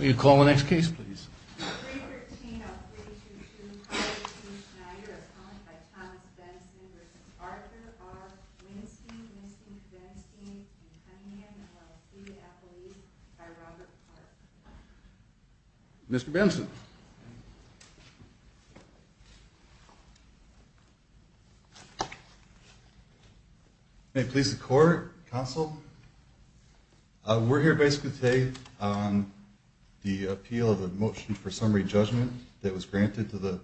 more orders because spend mhm than them it is court castle uh... we're here basically the appeal of the motion for summary judgment that was granted to the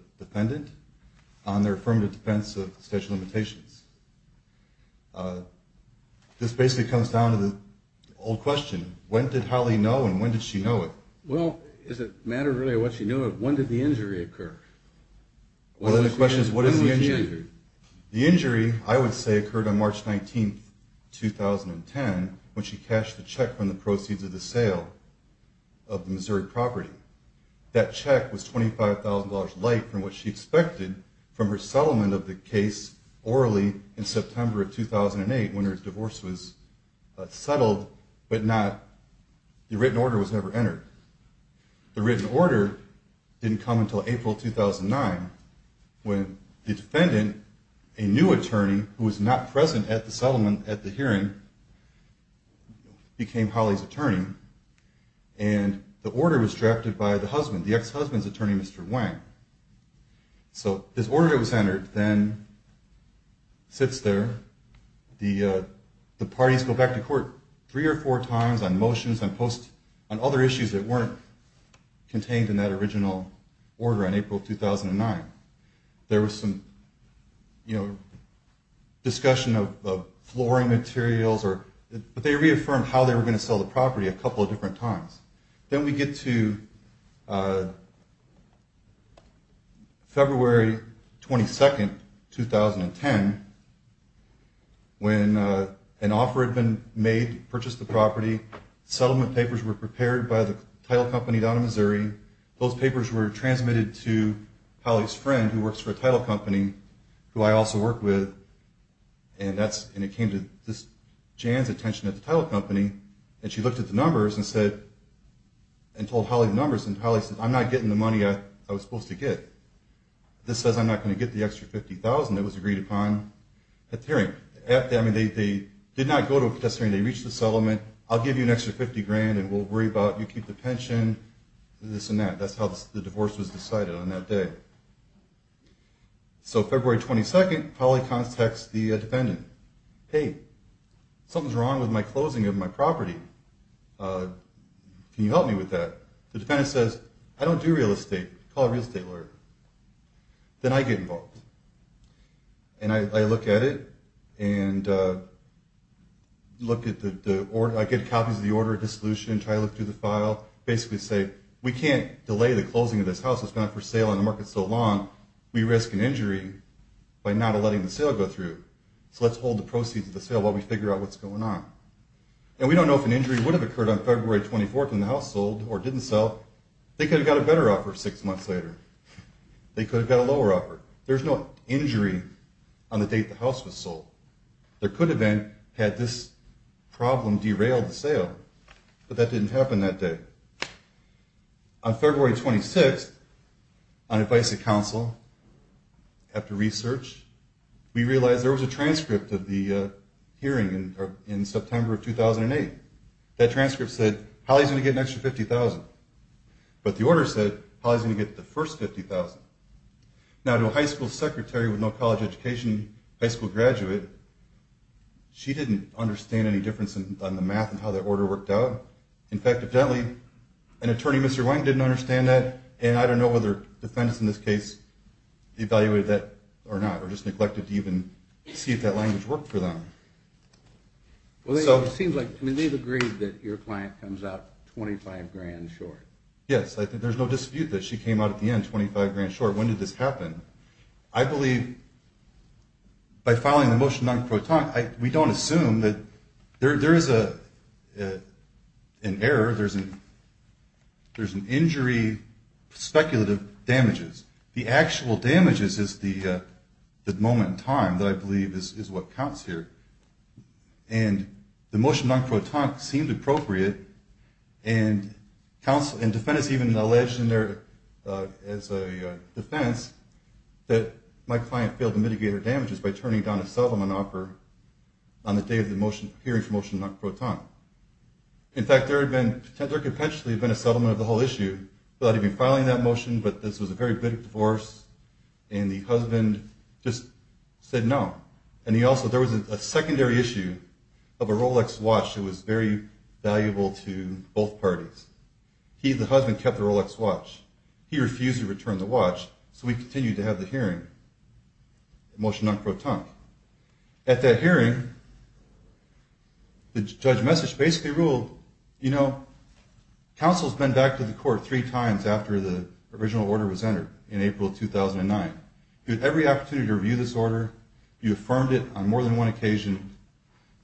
on their from the defense of special this basically comes down to the all question when did holly no and when did she know as a matter of what you know when did the injury occur when the question is what is the injury the injury i would say occurred on march nineteenth two thousand and ten which he cashed the check from the proceeds of the sale of missouri property that check was twenty five thousand dollars late from what she expected from a settlement of the case orally in september two thousand eight when her divorce was uh... subtle but not the written order was never entered the written order income until april two thousand nine defendant a new attorney was not present at the settlement at the hearing became police attorney the order was drafted by the husband the ex-husband's attorney mister wang so this order was entered then sits there the uh... the parties go back to court three or four times on motions and post on other issues that work contained in that original or in april two thousand nine there was some discussion of of flooring materials or but they reaffirmed how they were going to sell the property a couple of different times then we get to uh... february twenty second two thousand and ten when uh... an offer had been made purchased the property settlement papers were prepared by the title company down in missouri those papers were transmitted to works for a title company who i also work with and that's indicated james attention at the title company and she looked at the numbers and said and told holly numbers and policy i'm not getting the money at i was supposed to get this is not going to get the extra fifty thousand it was agreed upon at the hearing at the end of the day did not go to a testimony to reach the settlement i'll give you an extra fifty grand and we'll worry about you keep the pension this and that that's how the divorce was decided on that day so february twenty second holly contacts the defendant something's wrong with my closing of my property can you help me with that the defendant says i don't do real estate call a real estate lawyer then i get involved and i look at it and uh... look at the order i get copies of the order of dissolution try to look through the file basically say we can't delay the closing of this house is not for sale in the market so long we risk an injury by not letting the sale go through so let's hold the proceeds of the sale while we figure out what's going on and we don't know if an injury would have occurred on february twenty fourth when the house sold or didn't sell they could have got a better offer six months later they could have got a lower offer there's no injury on the date the house was sold there could have been had this problem derailed the sale but that didn't happen that day on february twenty sixth on advice of counsel after research we realized there was a transcript of the uh... hearing in september of two thousand eight that transcript said holly's going to get an extra fifty thousand but the order said holly's going to get the first fifty thousand now to a high school secretary with no college education high school graduate she didn't understand any difference in on the math and how the order worked out in fact evidently an attorney mr wang didn't understand that and i don't know whether defendants in this case evaluated that or not or just neglected to even see if that language worked for them well it seems like they've agreed that your client comes out twenty five grand short yes i think there's no dispute that she came out at the end twenty five grand short when did this happen i believe by filing a motion on croton we don't assume that there is a an error there's an injury speculative damages the actual damages is the uh... the moment in time that i believe is what counts here and the motion on croton seemed appropriate and defendants even alleged in their uh... as a defense that my client failed to mitigate her damages by turning down a settlement offer on the day of the hearing for motion on croton in fact there had been potentially a settlement of the whole issue without even filing that motion but this was a very big divorce and the husband said no and he also there was a secondary issue of a rolex watch that was very valuable to both parties he the husband kept the rolex watch he refused to return the watch so we continued to have the hearing motion on croton at that hearing the judge message basically ruled counsel's been back to the court three times after the original order was entered in april two thousand nine you had every opportunity to review this order you affirmed it on more than one occasion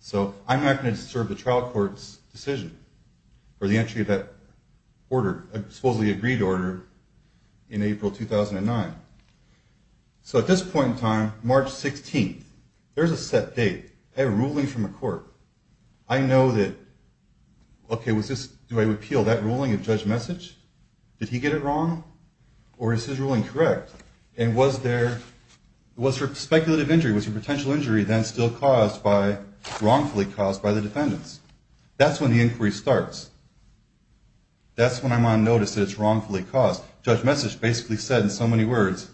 so i'm not going to serve the trial court's decision for the entry of that order supposedly agreed order in april two thousand nine so at this point in time march sixteenth there's a set date a ruling from the court i know that okay was this do i repeal that ruling of judge message did he get it wrong or is his ruling correct and was there was her speculative injury was her potential injury then still caused by wrongfully caused by the defendants that's when the inquiry starts that's when i'm on notice that it's wrongfully caused judge message basically said in so many words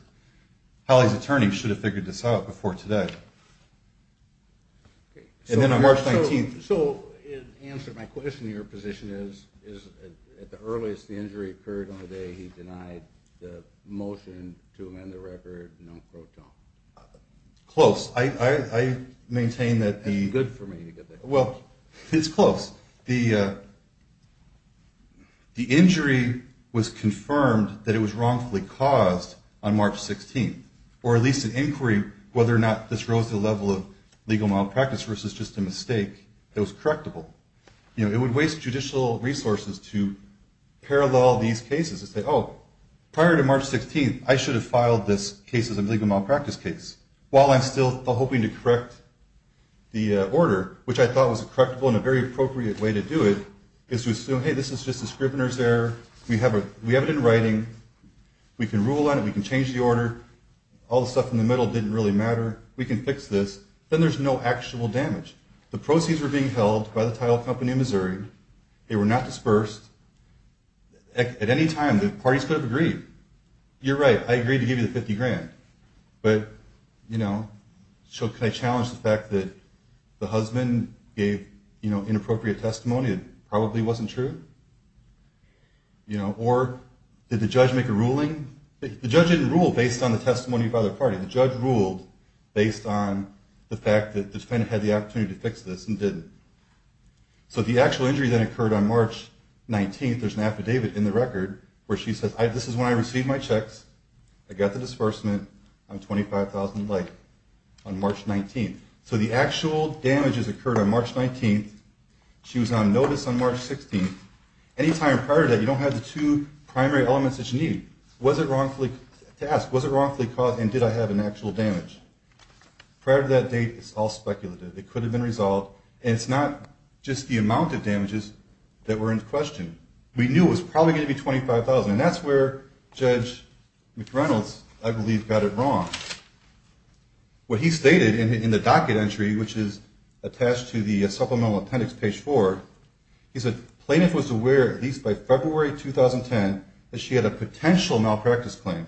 holly's attorney should have figured this out before today and then on march nineteenth so in answer to my question your position is is at the earliest the injury occurred on the day he denied the motion to amend the record non-croton close i maintain that the good for me to get that well it's close the uh... the injury was confirmed that it was wrongfully caused on march sixteenth or at least an inquiry whether or not this rose to the level of legal malpractice versus just a mistake that was correctable you know it would waste judicial resources to parallel these cases and say oh prior to march sixteenth i should have filed this cases of legal malpractice case while i'm still hoping to correct the uh... order which i thought was correctable and a very appropriate way to do it is to assume hey this is just a scrivener's error we have it in writing we can rule on it we can change the order all the stuff in the middle didn't really matter we can fix this then there's no actual damage the proceeds were being held by the title company of missouri they were not dispersed at any time the parties could have agreed you're right i agreed to give you the fifty grand but you know so can i challenge the fact that the husband gave you know inappropriate testimony that probably wasn't true you know or did the judge make a ruling the judge didn't rule based on the testimony by the party the judge ruled based on the fact that the defendant had the opportunity to fix this and didn't so the actual injury that occurred on march nineteenth there's an affidavit in the record where she says this is when i received my checks i got the disbursement on twenty five thousand like on march nineteenth so the actual damages occurred on march nineteenth she was on notice on march sixteenth any time prior to that you don't have the two primary elements that you need was it wrongfully to ask was it wrongfully caused and did i have an actual damage prior to that date it's all speculative it could have been resolved and it's not just the amount of damages that were in question we knew it was probably going to be twenty five thousand and that's where judge mcreynolds i believe got it wrong what he stated in the docket entry which is attached to the supplemental attendance page four he said plaintiff was aware at least by february two thousand ten that she had a potential malpractice claim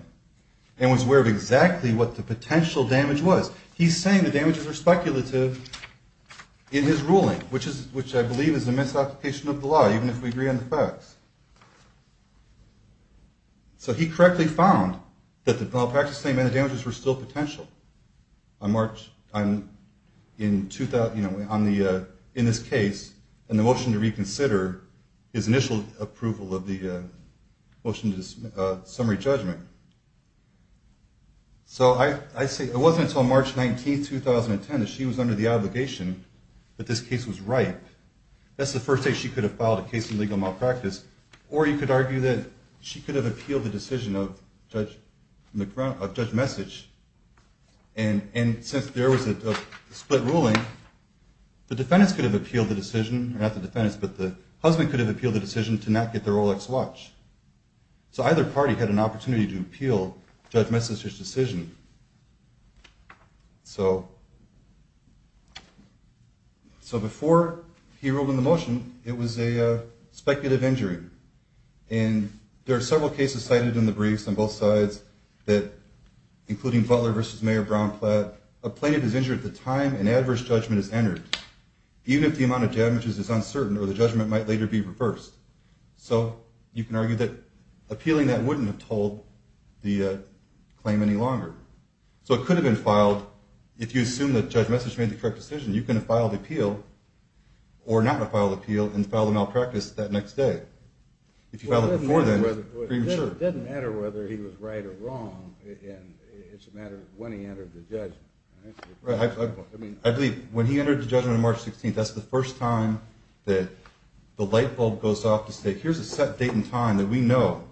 and was aware of exactly what the potential damage was he's saying the damages were speculative in his ruling which is which i believe is a misapplication of the law even if we agree on the facts so he correctly found that the malpractice claim and the damages were still potential on march in this case and the motion to reconsider his initial approval of the motion to summary judgment so i say it wasn't until march nineteenth two thousand and ten that she was under the obligation that this case was right that's the first day she could have filed a case of legal malpractice or you could argue that she could have appealed the decision of judge judge message and since there was a split ruling the defendants could have appealed the decision not the defendants but the husband could have appealed the decision to not get the Rolex watch so either party had an opportunity to appeal judge message's decision so so before he ruled in the motion it was a speculative injury and there are several cases cited in the briefs on both sides that including butler vs. mayor brownclad a plaintiff is injured at the time an adverse judgment is entered even if the amount of damages is uncertain or the judgment might later be reversed so you can argue that appealing that wouldn't have told the claim any longer so it could have been filed if you assume that judge message made the correct decision you could have filed appeal or not have filed appeal and filed a malpractice that next day if you filed it before then it doesn't matter whether he was right or wrong it's a matter of when he entered the judgment I believe when he entered the judgment on March 16th that's the first time that the light bulb goes off to say here's a set date and time that we know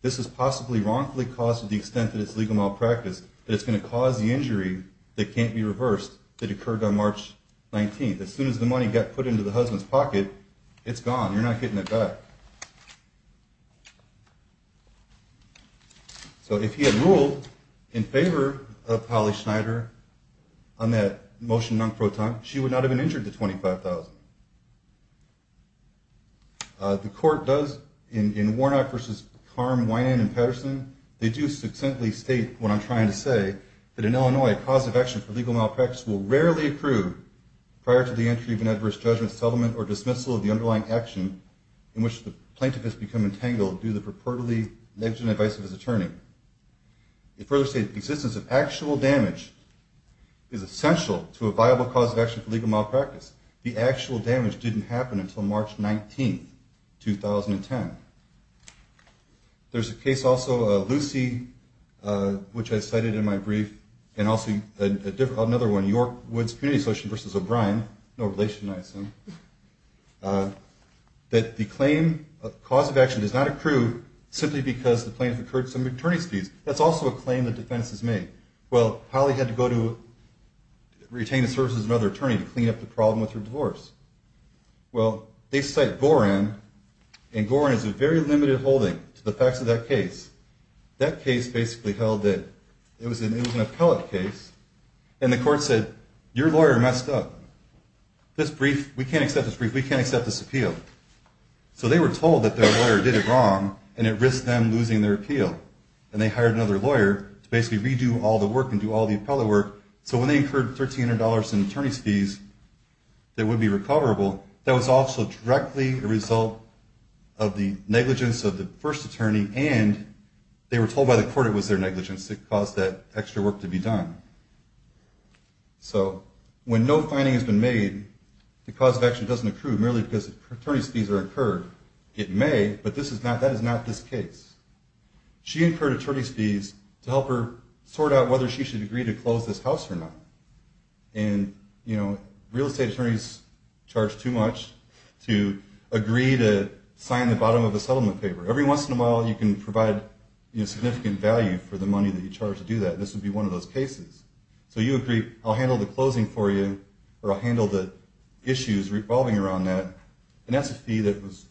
this is possibly wrongfully caused to the extent that it's legal malpractice that it's going to cause the injury that can't be reversed that occurred on March 19th as soon as the money got put into the husband's pocket it's gone, you're not getting it back so if he had ruled in favor of Polly Schneider on that motion non pro ton she would not have been injured to $25,000 the court does in Warnock v. Karm, Wynand & Patterson they do succinctly state what I'm trying to say that in Illinois a cause of action for legal malpractice will rarely approve prior to the entry of an adverse judgment settlement or dismissal of the underlying action in which the plaintiff has become entangled due to the purportedly negligent advice of his attorney it further states the existence of actual damage is essential to a viable cause of action for legal malpractice the actual damage didn't happen until March 19th, 2010 there's a case also, Lucy which I cited in my brief and also another one York Woods Community Association v. O'Brien no relation, I assume that the claim of cause of action does not approve simply because the plaintiff incurred some attorney's fees that's also a claim that defense has made well, Polly had to go to retain a service as another attorney to clean up the problem with her divorce well, they cite Gorin and Gorin has a very limited holding to the facts of that case that case basically held that it was an appellate case and the court said your lawyer messed up this brief, we can't accept this brief we can't accept this appeal so they were told that their lawyer did it wrong and it risked them losing their appeal and they hired another lawyer to basically redo all the work and do all the appellate work so when they incurred $1,300 in attorney's fees that would be recoverable that was also directly a result of the negligence of the first attorney and they were told by the court it was their negligence that caused that extra work to be done so when no finding has been made the cause of action doesn't accrue merely because attorney's fees are incurred it may, but that is not this case she incurred attorney's fees to help her sort out whether she should agree to close this house or not and real estate attorneys charge too much to agree to sign the bottom of a settlement paper every once in a while you can provide significant value for the money that you charge to do that and this would be one of those cases so you agree, I'll handle the closing for you or I'll handle the issues revolving around that and that's a fee that was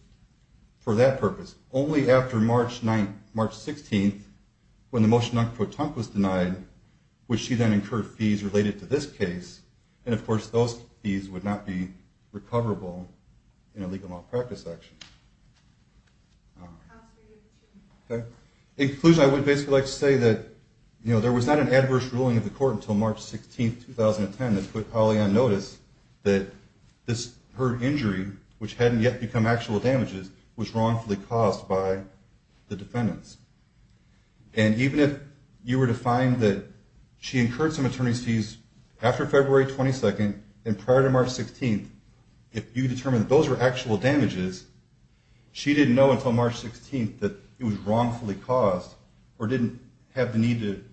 for that purpose only after March 16th when the motion on Kvotunk was denied which she then incurred fees related to this case and of course those fees would not be recoverable in a legal malpractice action In conclusion, I would basically like to say that there was not an adverse ruling of the court until March 16th, 2010 that put Holly on notice that her injury which hadn't yet become actual damages was wrongfully caused by the defendants and even if you were to find that she incurred some attorney's fees after February 22nd and prior to March 16th if you determined those were actual damages she didn't know until March 16th that it was wrongfully caused or didn't have the need to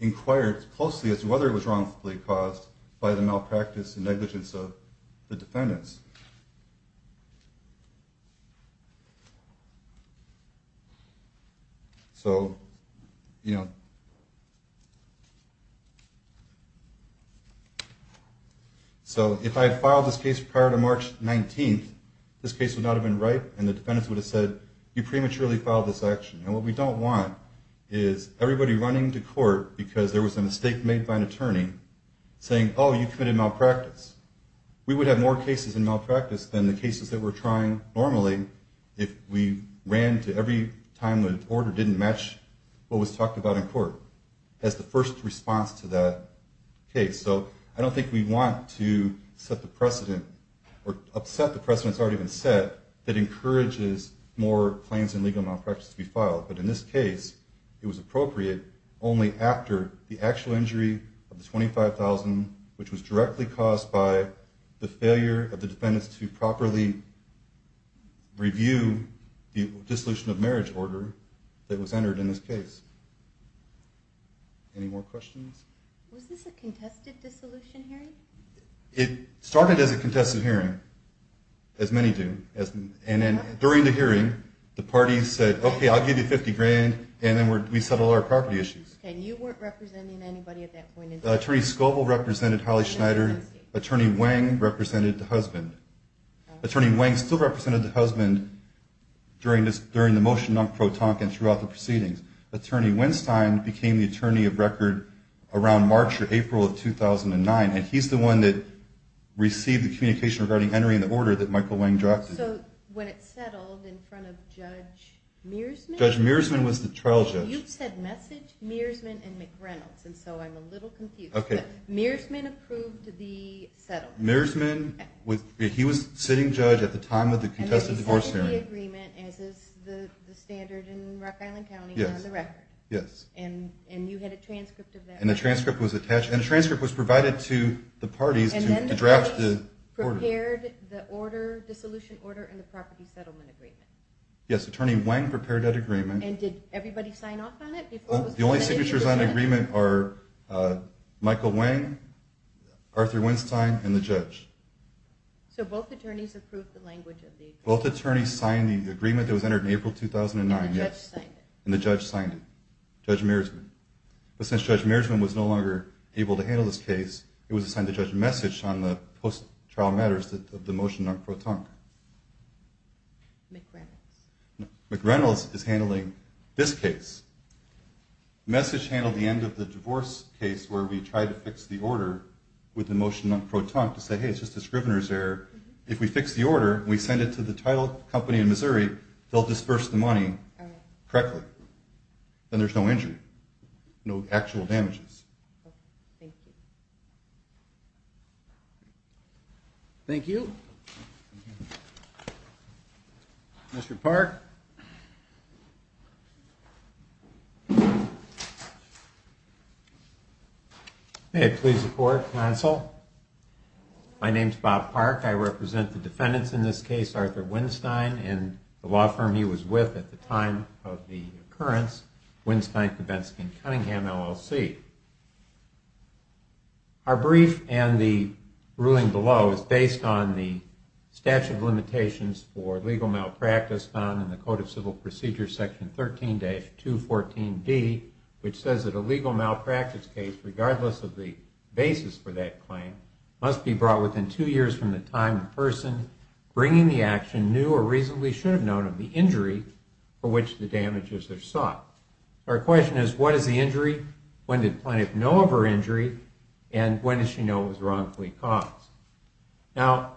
inquire as closely as to whether it was wrongfully caused by the malpractice and negligence of the defendants So if I had filed this case prior to March 19th this case would not have been right and the defendants would have said you prematurely filed this action and what we don't want is everybody running to court because there was a mistake made by an attorney saying, oh you committed malpractice we would have more cases in malpractice than the cases that we're trying normally if we ran to every time the order didn't match what was talked about in court as the first response to that case so I don't think we want to set the precedent or upset the precedent that's already been set that encourages more claims in legal malpractice to be filed but in this case it was appropriate only after the actual injury of the $25,000 which was directly caused by the failure of the defendants to properly review the dissolution of marriage order that was entered in this case Any more questions? Was this a contested dissolution hearing? It started as a contested hearing as many do and then during the hearing the parties said okay I'll give you $50,000 and then we settle our property issues And you weren't representing anybody at that point in time? Attorney Scovel represented Holly Schneider Attorney Wang represented the husband Attorney Wang still represented the husband during the motion on Pro Tonkin throughout the proceedings Attorney Winstein became the attorney of record around March or April of 2009 and he's the one that received the communication regarding Henry and the order that Michael Wang drafted So when it settled in front of Judge Mearsman Judge Mearsman was the trial judge You said Message, Mearsman, and McReynolds and so I'm a little confused Mearsman approved the settlement Mearsman, he was sitting judge at the time of the contested divorce hearing And it settled the agreement as is the standard in Rock Island County on the record Yes And you had a transcript of that And the transcript was attached to the parties to draft the order And then the parties prepared the order the dissolution order and the property settlement agreement Yes, Attorney Wang prepared that agreement And did everybody sign off on it? The only signatures on the agreement are Michael Wang, Arthur Winstein, and the judge So both attorneys approved the language of the agreement? Both attorneys signed the agreement that was entered in April 2009 And the judge signed it? And the judge signed it, Judge Mearsman But since Judge Mearsman was no longer able to handle this case it was assigned to Judge Message on the post-trial matters of the motion on Protonc McReynolds McReynolds is handling this case Message handled the end of the divorce case where we tried to fix the order with the motion on Protonc to say, hey, it's just a scrivener's error If we fix the order and we send it to the title company in Missouri they'll disburse the money correctly Then there's no injury No actual damages Thank you Thank you Mr. Park May it please the court, counsel My name's Bob Park I represent the defendants in this case Arthur Winstein and the law firm he was with at the time of the occurrence Winstein, Kavinsky & Cunningham, LLC Our brief and the ruling below is based on the statute of limitations for legal malpractice found in the Code of Civil Procedures Section 13-214B which says that a legal malpractice case regardless of the basis for that claim must be brought within two years from the time the person bringing the action knew or reasonably should have known of the injury for which the damages are sought Our question is, what is the injury? When did Plaintiff know of her injury? And when did she know it was wrongfully caused? Now,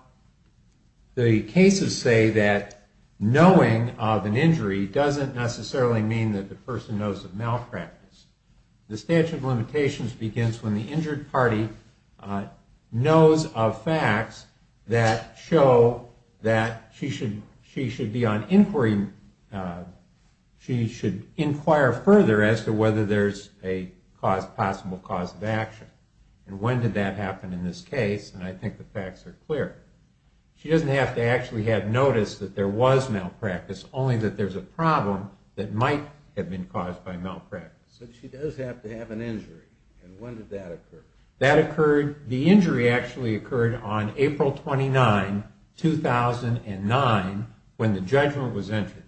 the cases say that knowing of an injury doesn't necessarily mean that the person knows of malpractice The statute of limitations begins when the injured party knows of facts that show that She should be on inquiry She should inquire further as to whether there's a possible cause of action And when did that happen in this case? And I think the facts are clear She doesn't have to actually have noticed that there was malpractice only that there's a problem that might have been caused by malpractice But she does have to have an injury And when did that occur? That occurred The injury actually occurred on April 29, 2009 when the judgment was entered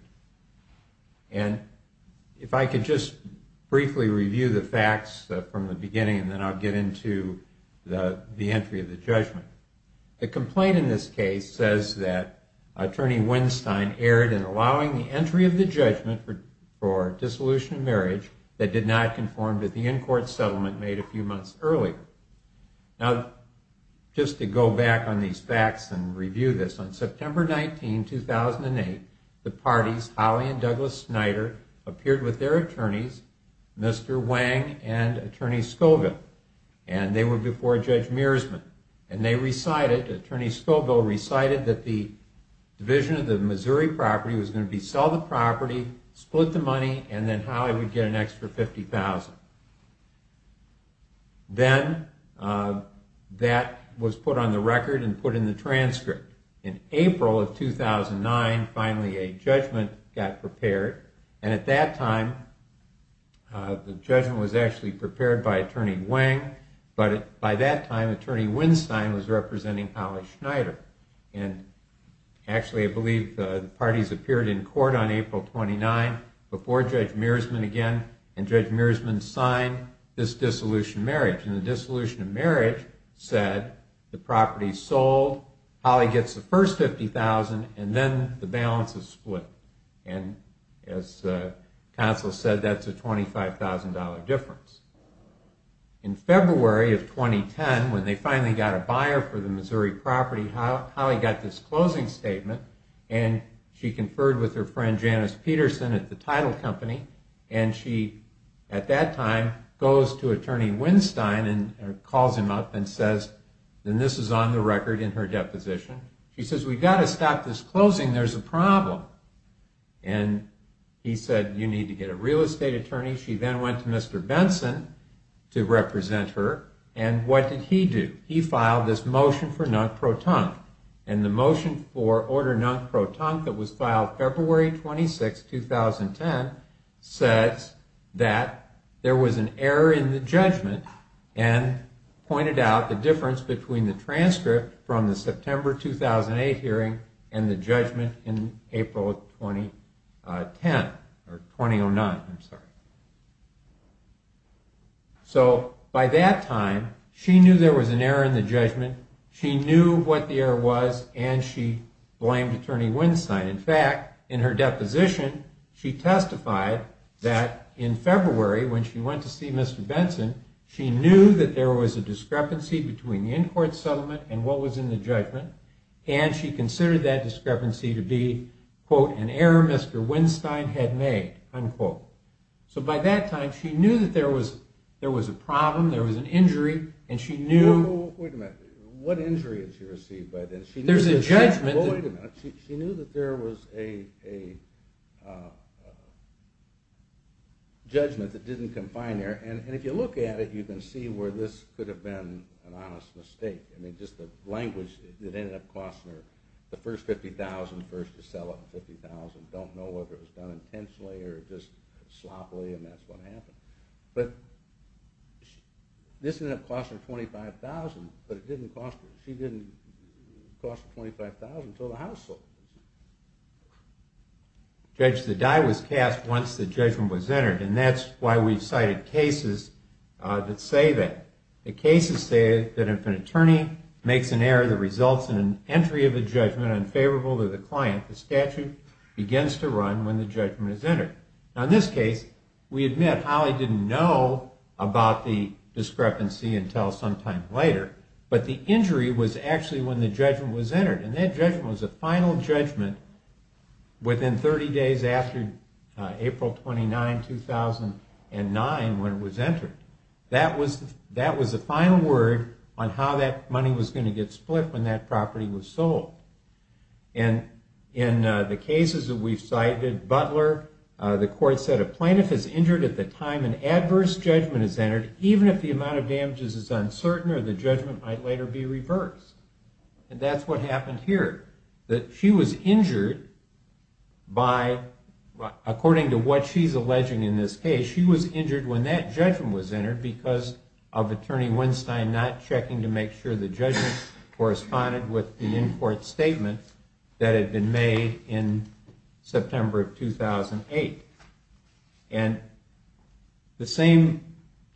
And if I could just briefly review the facts from the beginning and then I'll get into the entry of the judgment The complaint in this case says that Attorney Winstein erred in allowing the entry of the judgment for dissolution of marriage that did not conform to the in-court settlement made a few months earlier Now, just to go back on these facts and review this On September 19, 2008 the parties, Holley and Douglas-Snyder appeared with their attorneys Mr. Wang and Attorney Scoville And they were before Judge Mearsman And they recited Attorney Scoville recited that the division of the Missouri property was going to sell the property split the money and then Holley would get an extra $50,000 Then that was put on the record and put in the transcript In April of 2009 finally a judgment got prepared And at that time the judgment was actually prepared by Attorney Wang But by that time Attorney Winstein was representing Holley-Snyder And actually I believe the parties appeared in court on April 29 before Judge Mearsman again And Judge Mearsman signed this dissolution of marriage And the dissolution of marriage said the property sold Holley gets the first $50,000 and then the balance is split And as counsel said that's a $25,000 difference In February of 2010 when they finally got a buyer for the Missouri property Holley got this closing statement And she conferred with her friend Janice Peterson at the title company And she, at that time goes to Attorney Winstein and calls him up and says this is on the record in her deposition She says we've got to stop this closing there's a problem And he said you need to get a real estate attorney She then went to Mr. Benson to represent her And what did he do? He filed this motion for non-proton And the motion for order non-proton that was filed February 26, 2010 says that there was an error in the judgment and pointed out the difference between the transcript from the September 2008 hearing and the judgment in April 2010 or 2009, I'm sorry So by that time she knew there was an error in the judgment she knew what the error was and she blamed Attorney Winstein In fact, in her deposition she testified that in February when she went to see Mr. Benson she knew that there was a discrepancy between the in-court settlement and what was in the judgment and she considered that discrepancy to be quote, an error Mr. Winstein had made unquote So by that time she knew that there was there was a problem, there was an injury and she knew Wait a minute, what injury did she receive? There's a judgment She knew that there was a judgment that didn't confine her and if you look at it you can see where this could have been an honest mistake I mean just the language that ended up costing her the first $50,000, first to sell it for $50,000 don't know whether it was done intentionally or just sloppily and that's what happened but this ended up costing her $25,000 but it didn't cost her she didn't cost $25,000 until the house sold it Judge, the die was cast once the judgment was entered and that's why we've cited cases that say that the cases say that if an attorney makes an error that results in an entry of a judgment unfavorable to the client, the statute begins to run when the judgment is entered Now in this case, we admit Holly didn't know about the discrepancy until sometime later, but the injury was actually when the judgment was entered and that judgment was the final judgment within 30 days after April 29, 2009 when it was entered that was the final word on how that money was going to get split when that property was sold and in the cases that we've cited, Butler the court said a plaintiff is injured at the time an adverse judgment is entered even if the amount of damages is uncertain or the judgment might later be reversed and that's what happened here that she was injured by according to what she's alleging in this case, she was injured when that judgment was entered because of attorney Winstein not checking to make sure the judgment corresponded with the in-court statement that had been made in September of 2008 and the same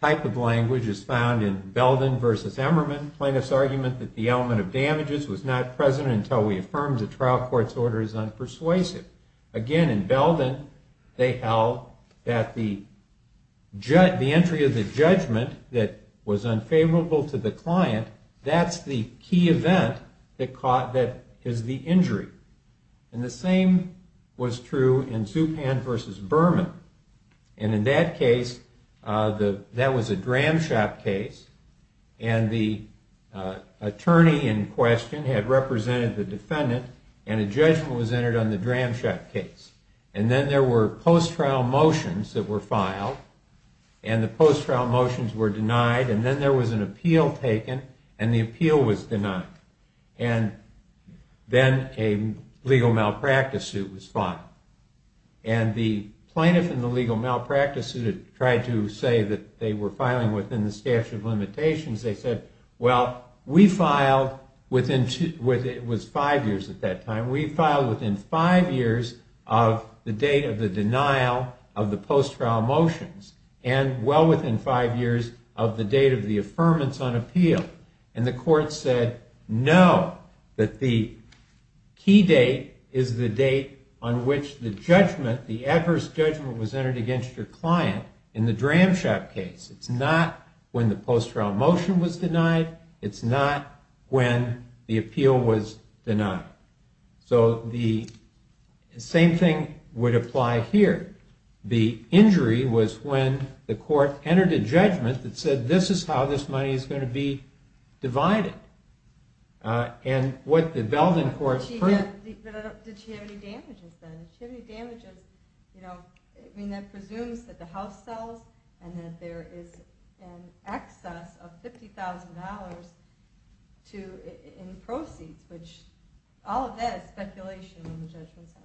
type of language is found in Belden v. Emmerman plaintiff's argument that the element of damages was not present until we affirmed the trial court's order is unpersuasive again in Belden they held that the entry of the judgment that was unfavorable to the client, that's the key event that is the injury and the same was true in Zupan v. Berman and in that case that was a dram shop case and the attorney in question had represented the defendant and a judgment was entered on the dram shop case and then there were post-trial motions that were filed and the post-trial motions were denied and then there was an appeal taken and the appeal was denied and then a legal malpractice suit was filed and the plaintiff in the legal malpractice suit had tried to say that they were filing within the statute of limitations, they said well we filed within, it was five years at that time, we filed within five years of the date of the denial of the post-trial motions and well within five years of the date of the affirmance on appeal and the court said no that the key date is the date on which the judgment, the adverse judgment was entered against your client in the dram shop case, it's not when the post-trial motion was denied, it's not when the appeal was denied. So the same thing would apply here, the injury was when the court entered a judgment that said this is how this money is going to be divided and what the Belden court did she have any damages then, did she have any damages I mean that presumes that the house sells and that there is an excess of $50,000 in proceeds which all of that is speculation in the judgment center.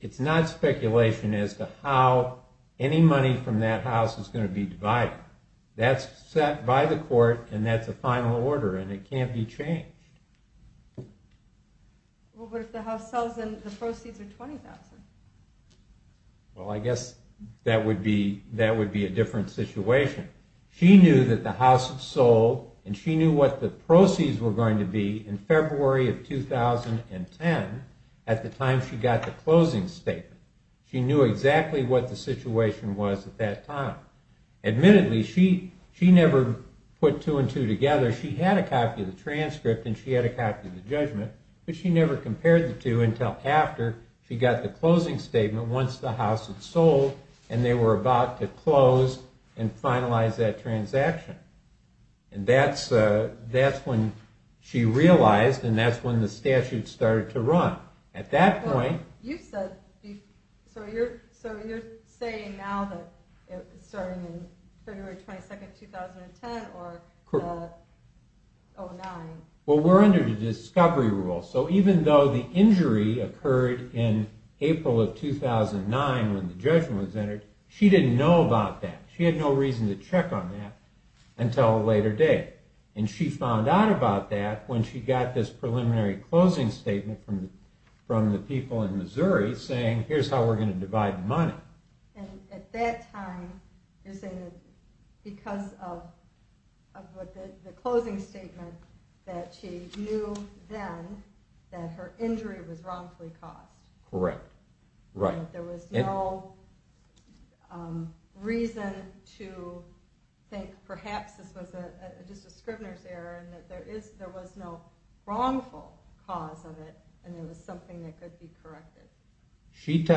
It's not speculation as to how any money from that house is going to be divided. That's set by the court and that's a final order and it can't be changed. Well but if the house sells then the proceeds are $20,000. Well I guess that would be a different situation. She knew that the house sold and she knew what the proceeds were going to be in February of 2010 at the time she got the closing statement. She knew exactly what the situation was at that time. Admittedly she never put two and two together. She had a copy of the transcript and she had a copy of the judgment but she never compared the two until after she got the closing statement once the house had sold and they were about to close and finalize that transaction. That's when she realized and that's when the statute started to run. At that point... Now that it's starting in February 22, 2010 or... Well we're under the discovery rule so even though the injury occurred in April of 2009 when the judgment was entered, she didn't know about that. She had no reason to check on that until a later date. And she found out about that when she got this preliminary closing statement from the people in Missouri saying here's how we're going to divide money. At that time, you're saying because of the closing statement that she knew then that her injury was wrongfully caused. Correct. Right. There was no reason to think perhaps this was just a scrivener's error and that there was no wrongful cause of it and it was something that could be added to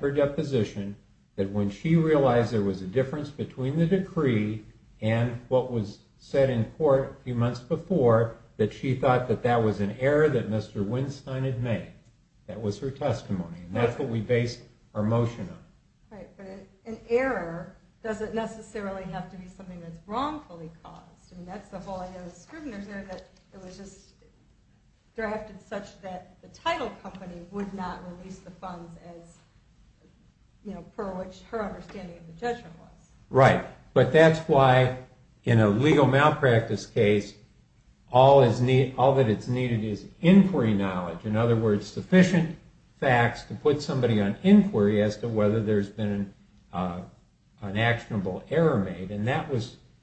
her deposition that when she realized there was a difference between the decree and what was said in court a few months before that she thought that that was an error that Mr. Winstein had made. That was her testimony and that's what we based our motion on. Right, but an error doesn't necessarily have to be something that's wrongfully caused. That's the whole idea of the scrivener's error that it was just drafted such that the title company would not release the funds per which her understanding of the judgment was. Right, but that's why in a legal malpractice case all that's needed is inquiry knowledge. In other words, sufficient facts to put somebody on inquiry as to whether there's been an actionable error made.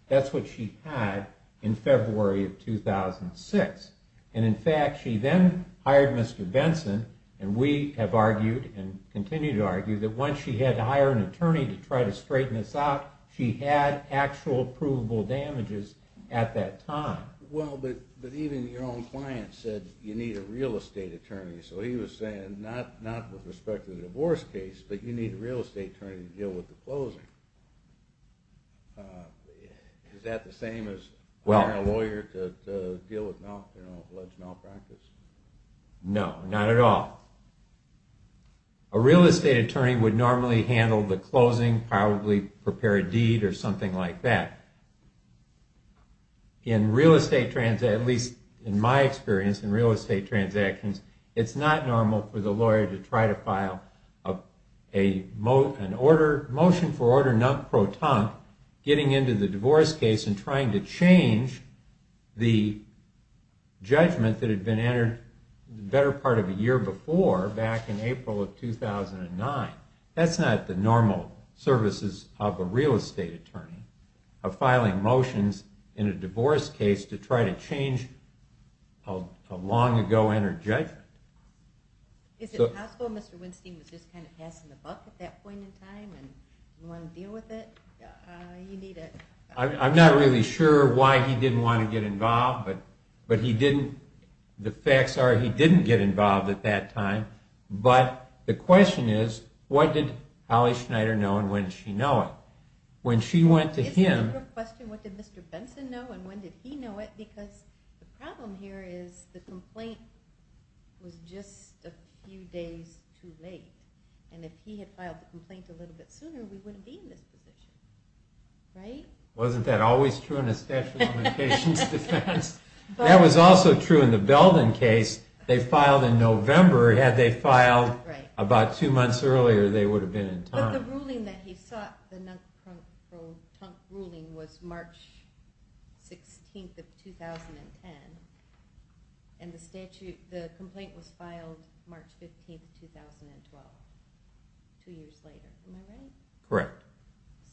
That's what she had in February of 2006. In fact, she then hired Mr. Benson and we have argued and continue to argue that once she had to hire an attorney to try to straighten this out, she had actual provable damages at that time. But even your own client said you need a real estate attorney. So he was saying, not with respect to the divorce case, but you need a real estate attorney to deal with the closing. Is that the same as hiring a lawyer to deal with alleged malpractice? No, not at all. A real estate attorney would normally handle the closing, probably prepare a deed or something like that. In real estate transactions, at least in my experience, in real estate transactions, it's not normal for the lawyer to try to file a motion for order non-proton getting into the divorce case and trying to change the judgment that had been entered the better part of a year before, back in April of 2009. That's not the normal services of a real estate attorney, of filing motions in a divorce case to try to change a long ago entered judgment. Is it possible Mr. Winstein was just kind of passing the buck at that point in time and wanted to deal with it? I'm not really sure why he didn't want to get involved, but he didn't. The facts are he didn't get involved at that time, but the question is, what did Holly Schneider know and when did she know it? When she went to him... It's a different question, what did Mr. Benson know and when did he know it, because the problem here is the complaint was just a few days too late. And if he had filed the complaint a little bit sooner, we wouldn't be in this position. Wasn't that always true in a statute of limitations defense? That was also true in the Belden case. They filed in November. Had they filed about two months earlier, they would have been in time. But the ruling that he sought, the ruling was March 16th of 2010 and the complaint was filed March 15th of 2012. Two years later. Am I right? Correct.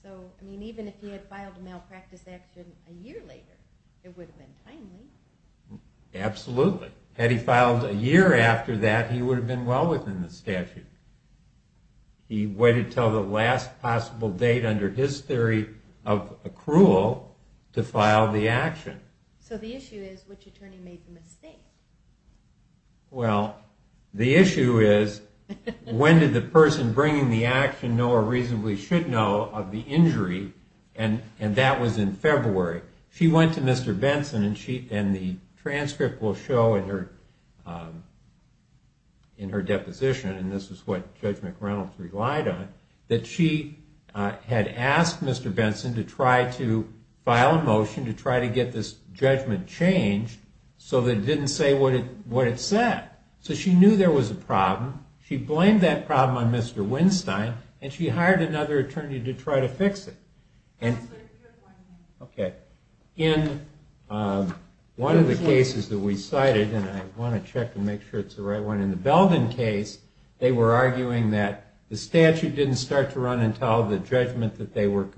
So, even if he had filed a malpractice action a year later, it would have been timely. Absolutely. Had he filed a year after that, he would have been well within the statute. He waited until the last possible date under his theory of accrual to file the action. So the issue is, which attorney made the mistake? Well, the issue is, when did the person bringing the action know or reasonably should know of the injury? And that was in February. She went to Mr. Benson and the transcript will show in her deposition, and this is what Judge McReynolds relied on, that she had asked Mr. Benson to try to file a motion to try to get this judgment changed so that it didn't say what it said. So she knew there was a problem. She blamed that problem on Mr. Winstein, and she hired another attorney to try to fix it. Okay. In one of the cases that we cited, and I want to check and make sure it's the right one, in the Belden case, they were arguing that the statute didn't start to run until the judgment that they were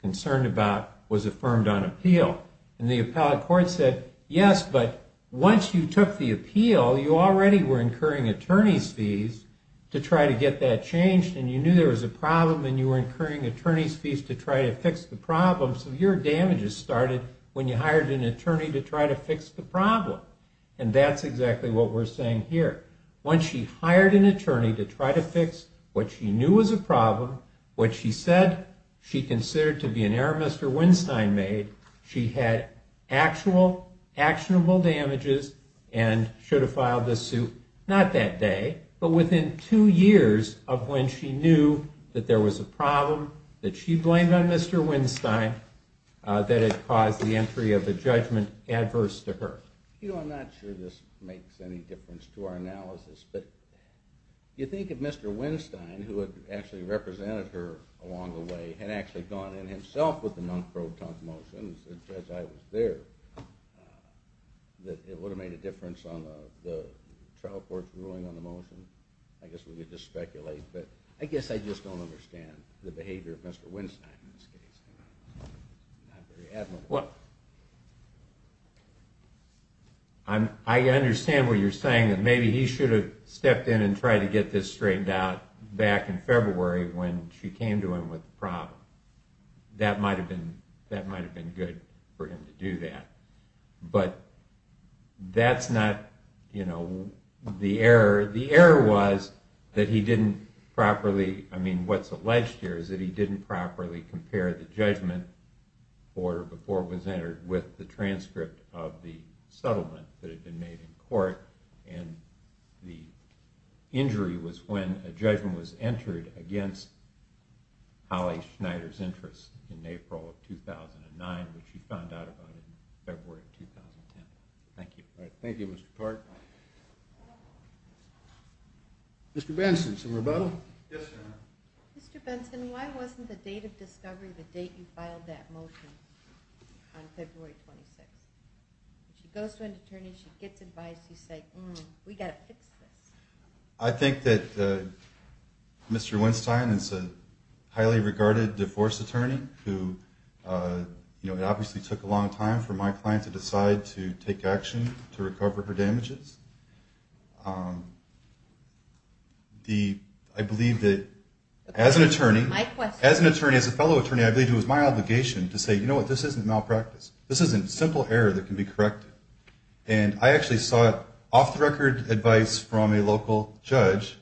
concerned about was affirmed on appeal. And the appellate court said, yes, but once you took the appeal, you already were incurring attorney's fees to try to get that changed, and you knew there was a problem, and you were incurring attorney's fees to try to fix the problem, so your damages started when you hired an attorney to try to fix the problem. And that's exactly what we're saying here. Once she hired an attorney to try to fix what she knew was a problem, what she said she considered to be an error Mr. Winstein made, she had actual, actionable damages and should have filed the suit not that day, but within two years of when she knew that there was a problem that she blamed on Mr. Winstein that had caused the entry of the judgment adverse to her. You know, I'm not sure this makes any difference to our analysis, but you think of Mr. Winstein, who had actually represented her along the way, had actually gone in himself with the non-proton motions as I was there, that it would have made a difference on the trial court's ruling on the motion? I guess we could just speculate, but I guess I just don't understand the behavior of Mr. Winstein in this case. I'm not very admirable. What? I understand what you're saying, that maybe he should have stepped in and tried to get this straightened out back in February when she came to him with the problem. That might have been good for him to do that. But that's not the error. The error was that he didn't properly, I mean, what's alleged here is that he didn't properly compare the judgment order before it was entered with the transcript of the settlement that had been made in court, and the injury was when a judgment was entered against Holly Schneider's interest in April of 2009, which she found out about in February of 2010. Thank you. Thank you, Mr. Clark. Mr. Benson, some rebuttal? Mr. Benson, why wasn't the date of discovery the date you filed that motion on February 26th? She goes to an attorney, she gets advised, you say, hmm, we've got to fix this. I think that Mr. Weinstein is a highly regarded divorce attorney who obviously took a long time for my client to decide to take action to recover her damages. I believe that as an attorney, as a fellow attorney, I believe it was my obligation to say, you know what, this isn't malpractice. This isn't simple error that can be corrected. And I actually sought off-the-record advice from a local judge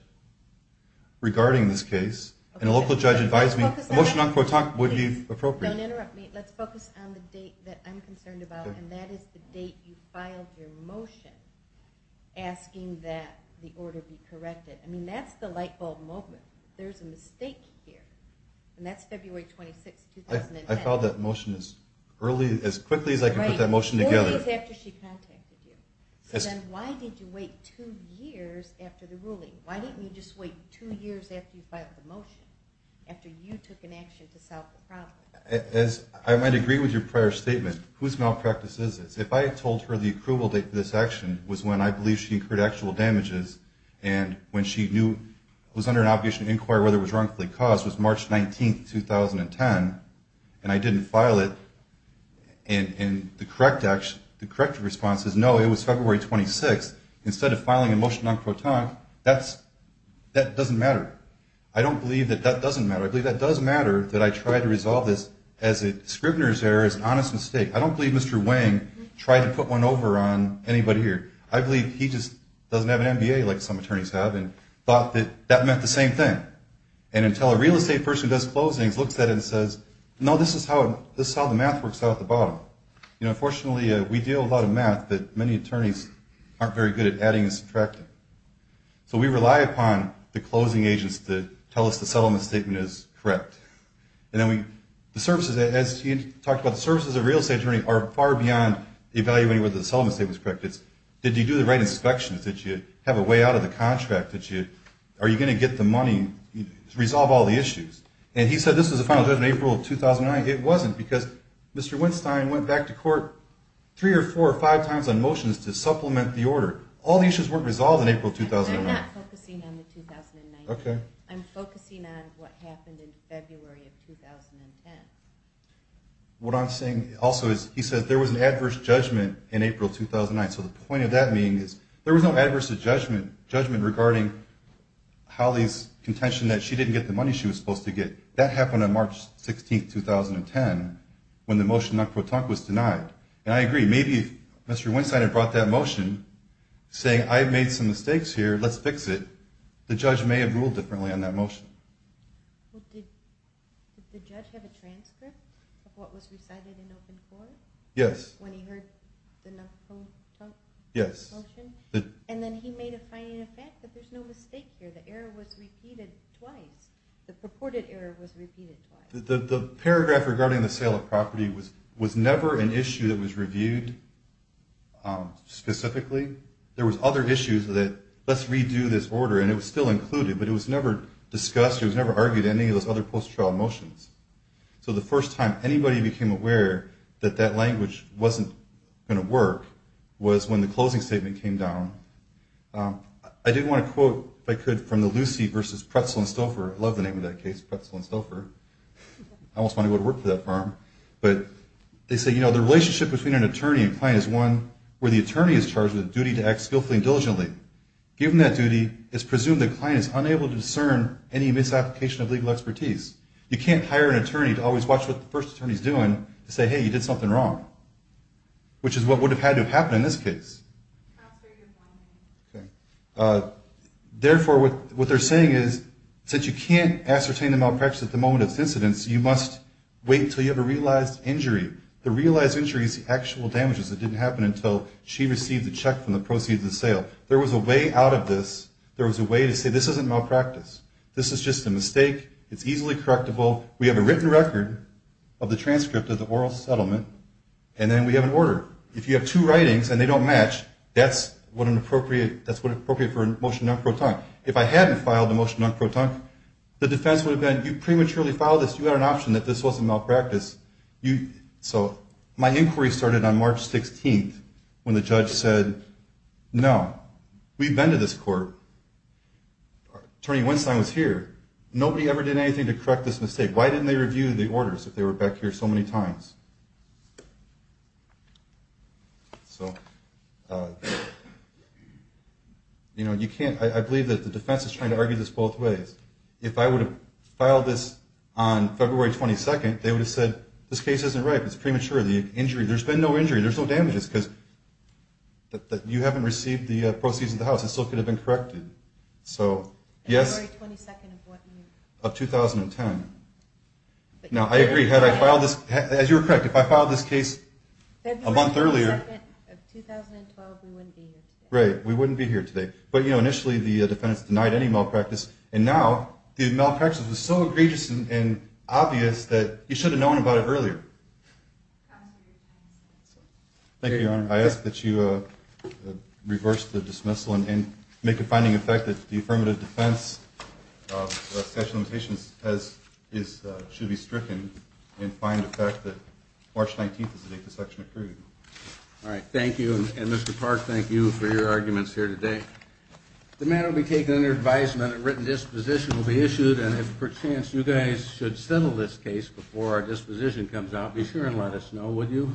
regarding this case. And a local judge advised me a motion on Quotat would be appropriate. Don't interrupt me. Let's focus on the date that I'm concerned about, and that is the date you filed your motion asking that the order be corrected. I mean, that's the lightbulb moment. There's a mistake here. And that's February 26th, 2010. I filed that motion as early as quickly as I could put that motion together. Four days after she contacted you. So then why did you wait two years after the ruling? Why didn't you just wait two years after you filed the motion? After you took an action to solve the problem? I might agree with your prior statement. Whose malpractice is this? If I had told her the approval date for this action was when I believe she incurred actual damages, and when she knew, was under an obligation to inquire whether it was wrongfully caused, was March 19th, 2010, and I didn't file it, and the correct response is, no, it was February 26th, instead of filing a motion en quotant, that doesn't matter. I don't believe that that doesn't matter. I believe that does matter that I tried to resolve this as a scrivener's error, as an honest mistake. I don't believe Mr. Wang tried to put one over on anybody here. I believe he just doesn't have an MBA like some attorneys have, and thought that that meant the same thing. And until a real estate person who does closings looks at it and says, no, this is how the math works out at the bottom. You know, unfortunately, we deal with a lot of math that many attorneys aren't very good at adding and subtracting. So we rely upon the closing agents to tell us the settlement statement is correct. The services, as you talked about, the services of a real estate attorney are far beyond evaluating whether the settlement statement is correct. It's, did you do the right inspections? Did you have a way out of the contract? Are you going to get the money to resolve all the issues? And he said this was the final judgment in April of 2009. It wasn't because Mr. Winstein went back to court three or four or five times on motions to supplement the order. All the issues weren't resolved in April of 2009. I'm not focusing on the 2019. I'm focusing on what happened in February of 2010. What I'm saying also is, he said there was an adverse judgment in April of 2009. So the point of that being is, there was no adverse judgment regarding Holly's contention that she didn't get the money she was supposed to get. That happened on March 16, 2010 when the motion was denied. And I agree. Maybe if Mr. Winstein had brought that motion saying, I've made some mistakes here, let's fix it, the judge may have ruled differently on that motion. Did the judge have a transcript of what was recited in open court? Yes. When he heard the motion? Yes. And then he made a fine in effect that there's no mistake here. The error was repeated twice. The purported error was repeated twice. The paragraph regarding the sale of property was never an issue that was reviewed specifically. There was other issues that, let's redo this order, and it was still included, but it was never discussed, it was never argued in any of those other post-trial motions. So the first time anybody became aware that that language wasn't going to work was when the closing statement came down. I did want to quote, if I could, from the Lucy versus Pretzel and Stouffer, I love the name of that case, Pretzel and Stouffer. I almost want to go to work for that firm. But they say, you know, the relationship between an attorney and client is one where the attorney is charged with the duty to act skillfully and diligently. Given that duty, it's presumed the client is unable to discern any misapplication of legal expertise. You can't hire an attorney to always watch what the first attorney's doing to say, hey, you did something wrong, which is what would have had to have happened in this case. Okay. Therefore, what they're saying is, since you can't ascertain the malpractice at the moment of incidence, you must wait until you have a realized injury. The realized injury is the actual damages that didn't happen until she received the check from the proceeds of the sale. There was a way out of this. There was a way to say, this isn't malpractice. This is just a mistake. It's easily correctable. We have a written record of the transcript of the oral settlement, and then we have an order. If you have two writings and they don't match, that's what's appropriate for a motion non pro tonic. If I hadn't filed a motion non pro tonic, the defense would have been, you prematurely filed this, you had an option that this wasn't malpractice. So, my inquiry started on March 16th when the judge said, no. We've been to this court. Attorney Winstein was here. Nobody ever did anything to correct this mistake. Why didn't they review the orders if they were back here so many times? So, you know, you can't, I believe that the defense is trying to argue this both ways. If I would have filed this on February 22nd, they would have said, this case isn't right. It's premature. There's been no injury. There's no damages because you haven't received the proceeds of the house. It still could have been corrected. So, yes. February 22nd of what year? Of 2010. Now, I agree. Had I filed this, as you were correct, if I filed this case a month earlier, February 22nd of 2012, we wouldn't be here today. Right. We wouldn't be here today. But, you know, initially the defendants denied any malpractice. And now, the malpractice was so egregious and obvious that you should have known about it earlier. Thank you, Your Honor. I ask that you and make a finding of the fact that the affirmative defense of statute of limitations should be stricken and find the fact that March 19th is the date the section approved. All right. Thank you. And, Mr. Park, thank you for your arguments here today. The matter will be taken under advisement. A written disposition will be issued. And if, perchance, you guys should settle this case before our disposition comes out, be sure and let us know, would you?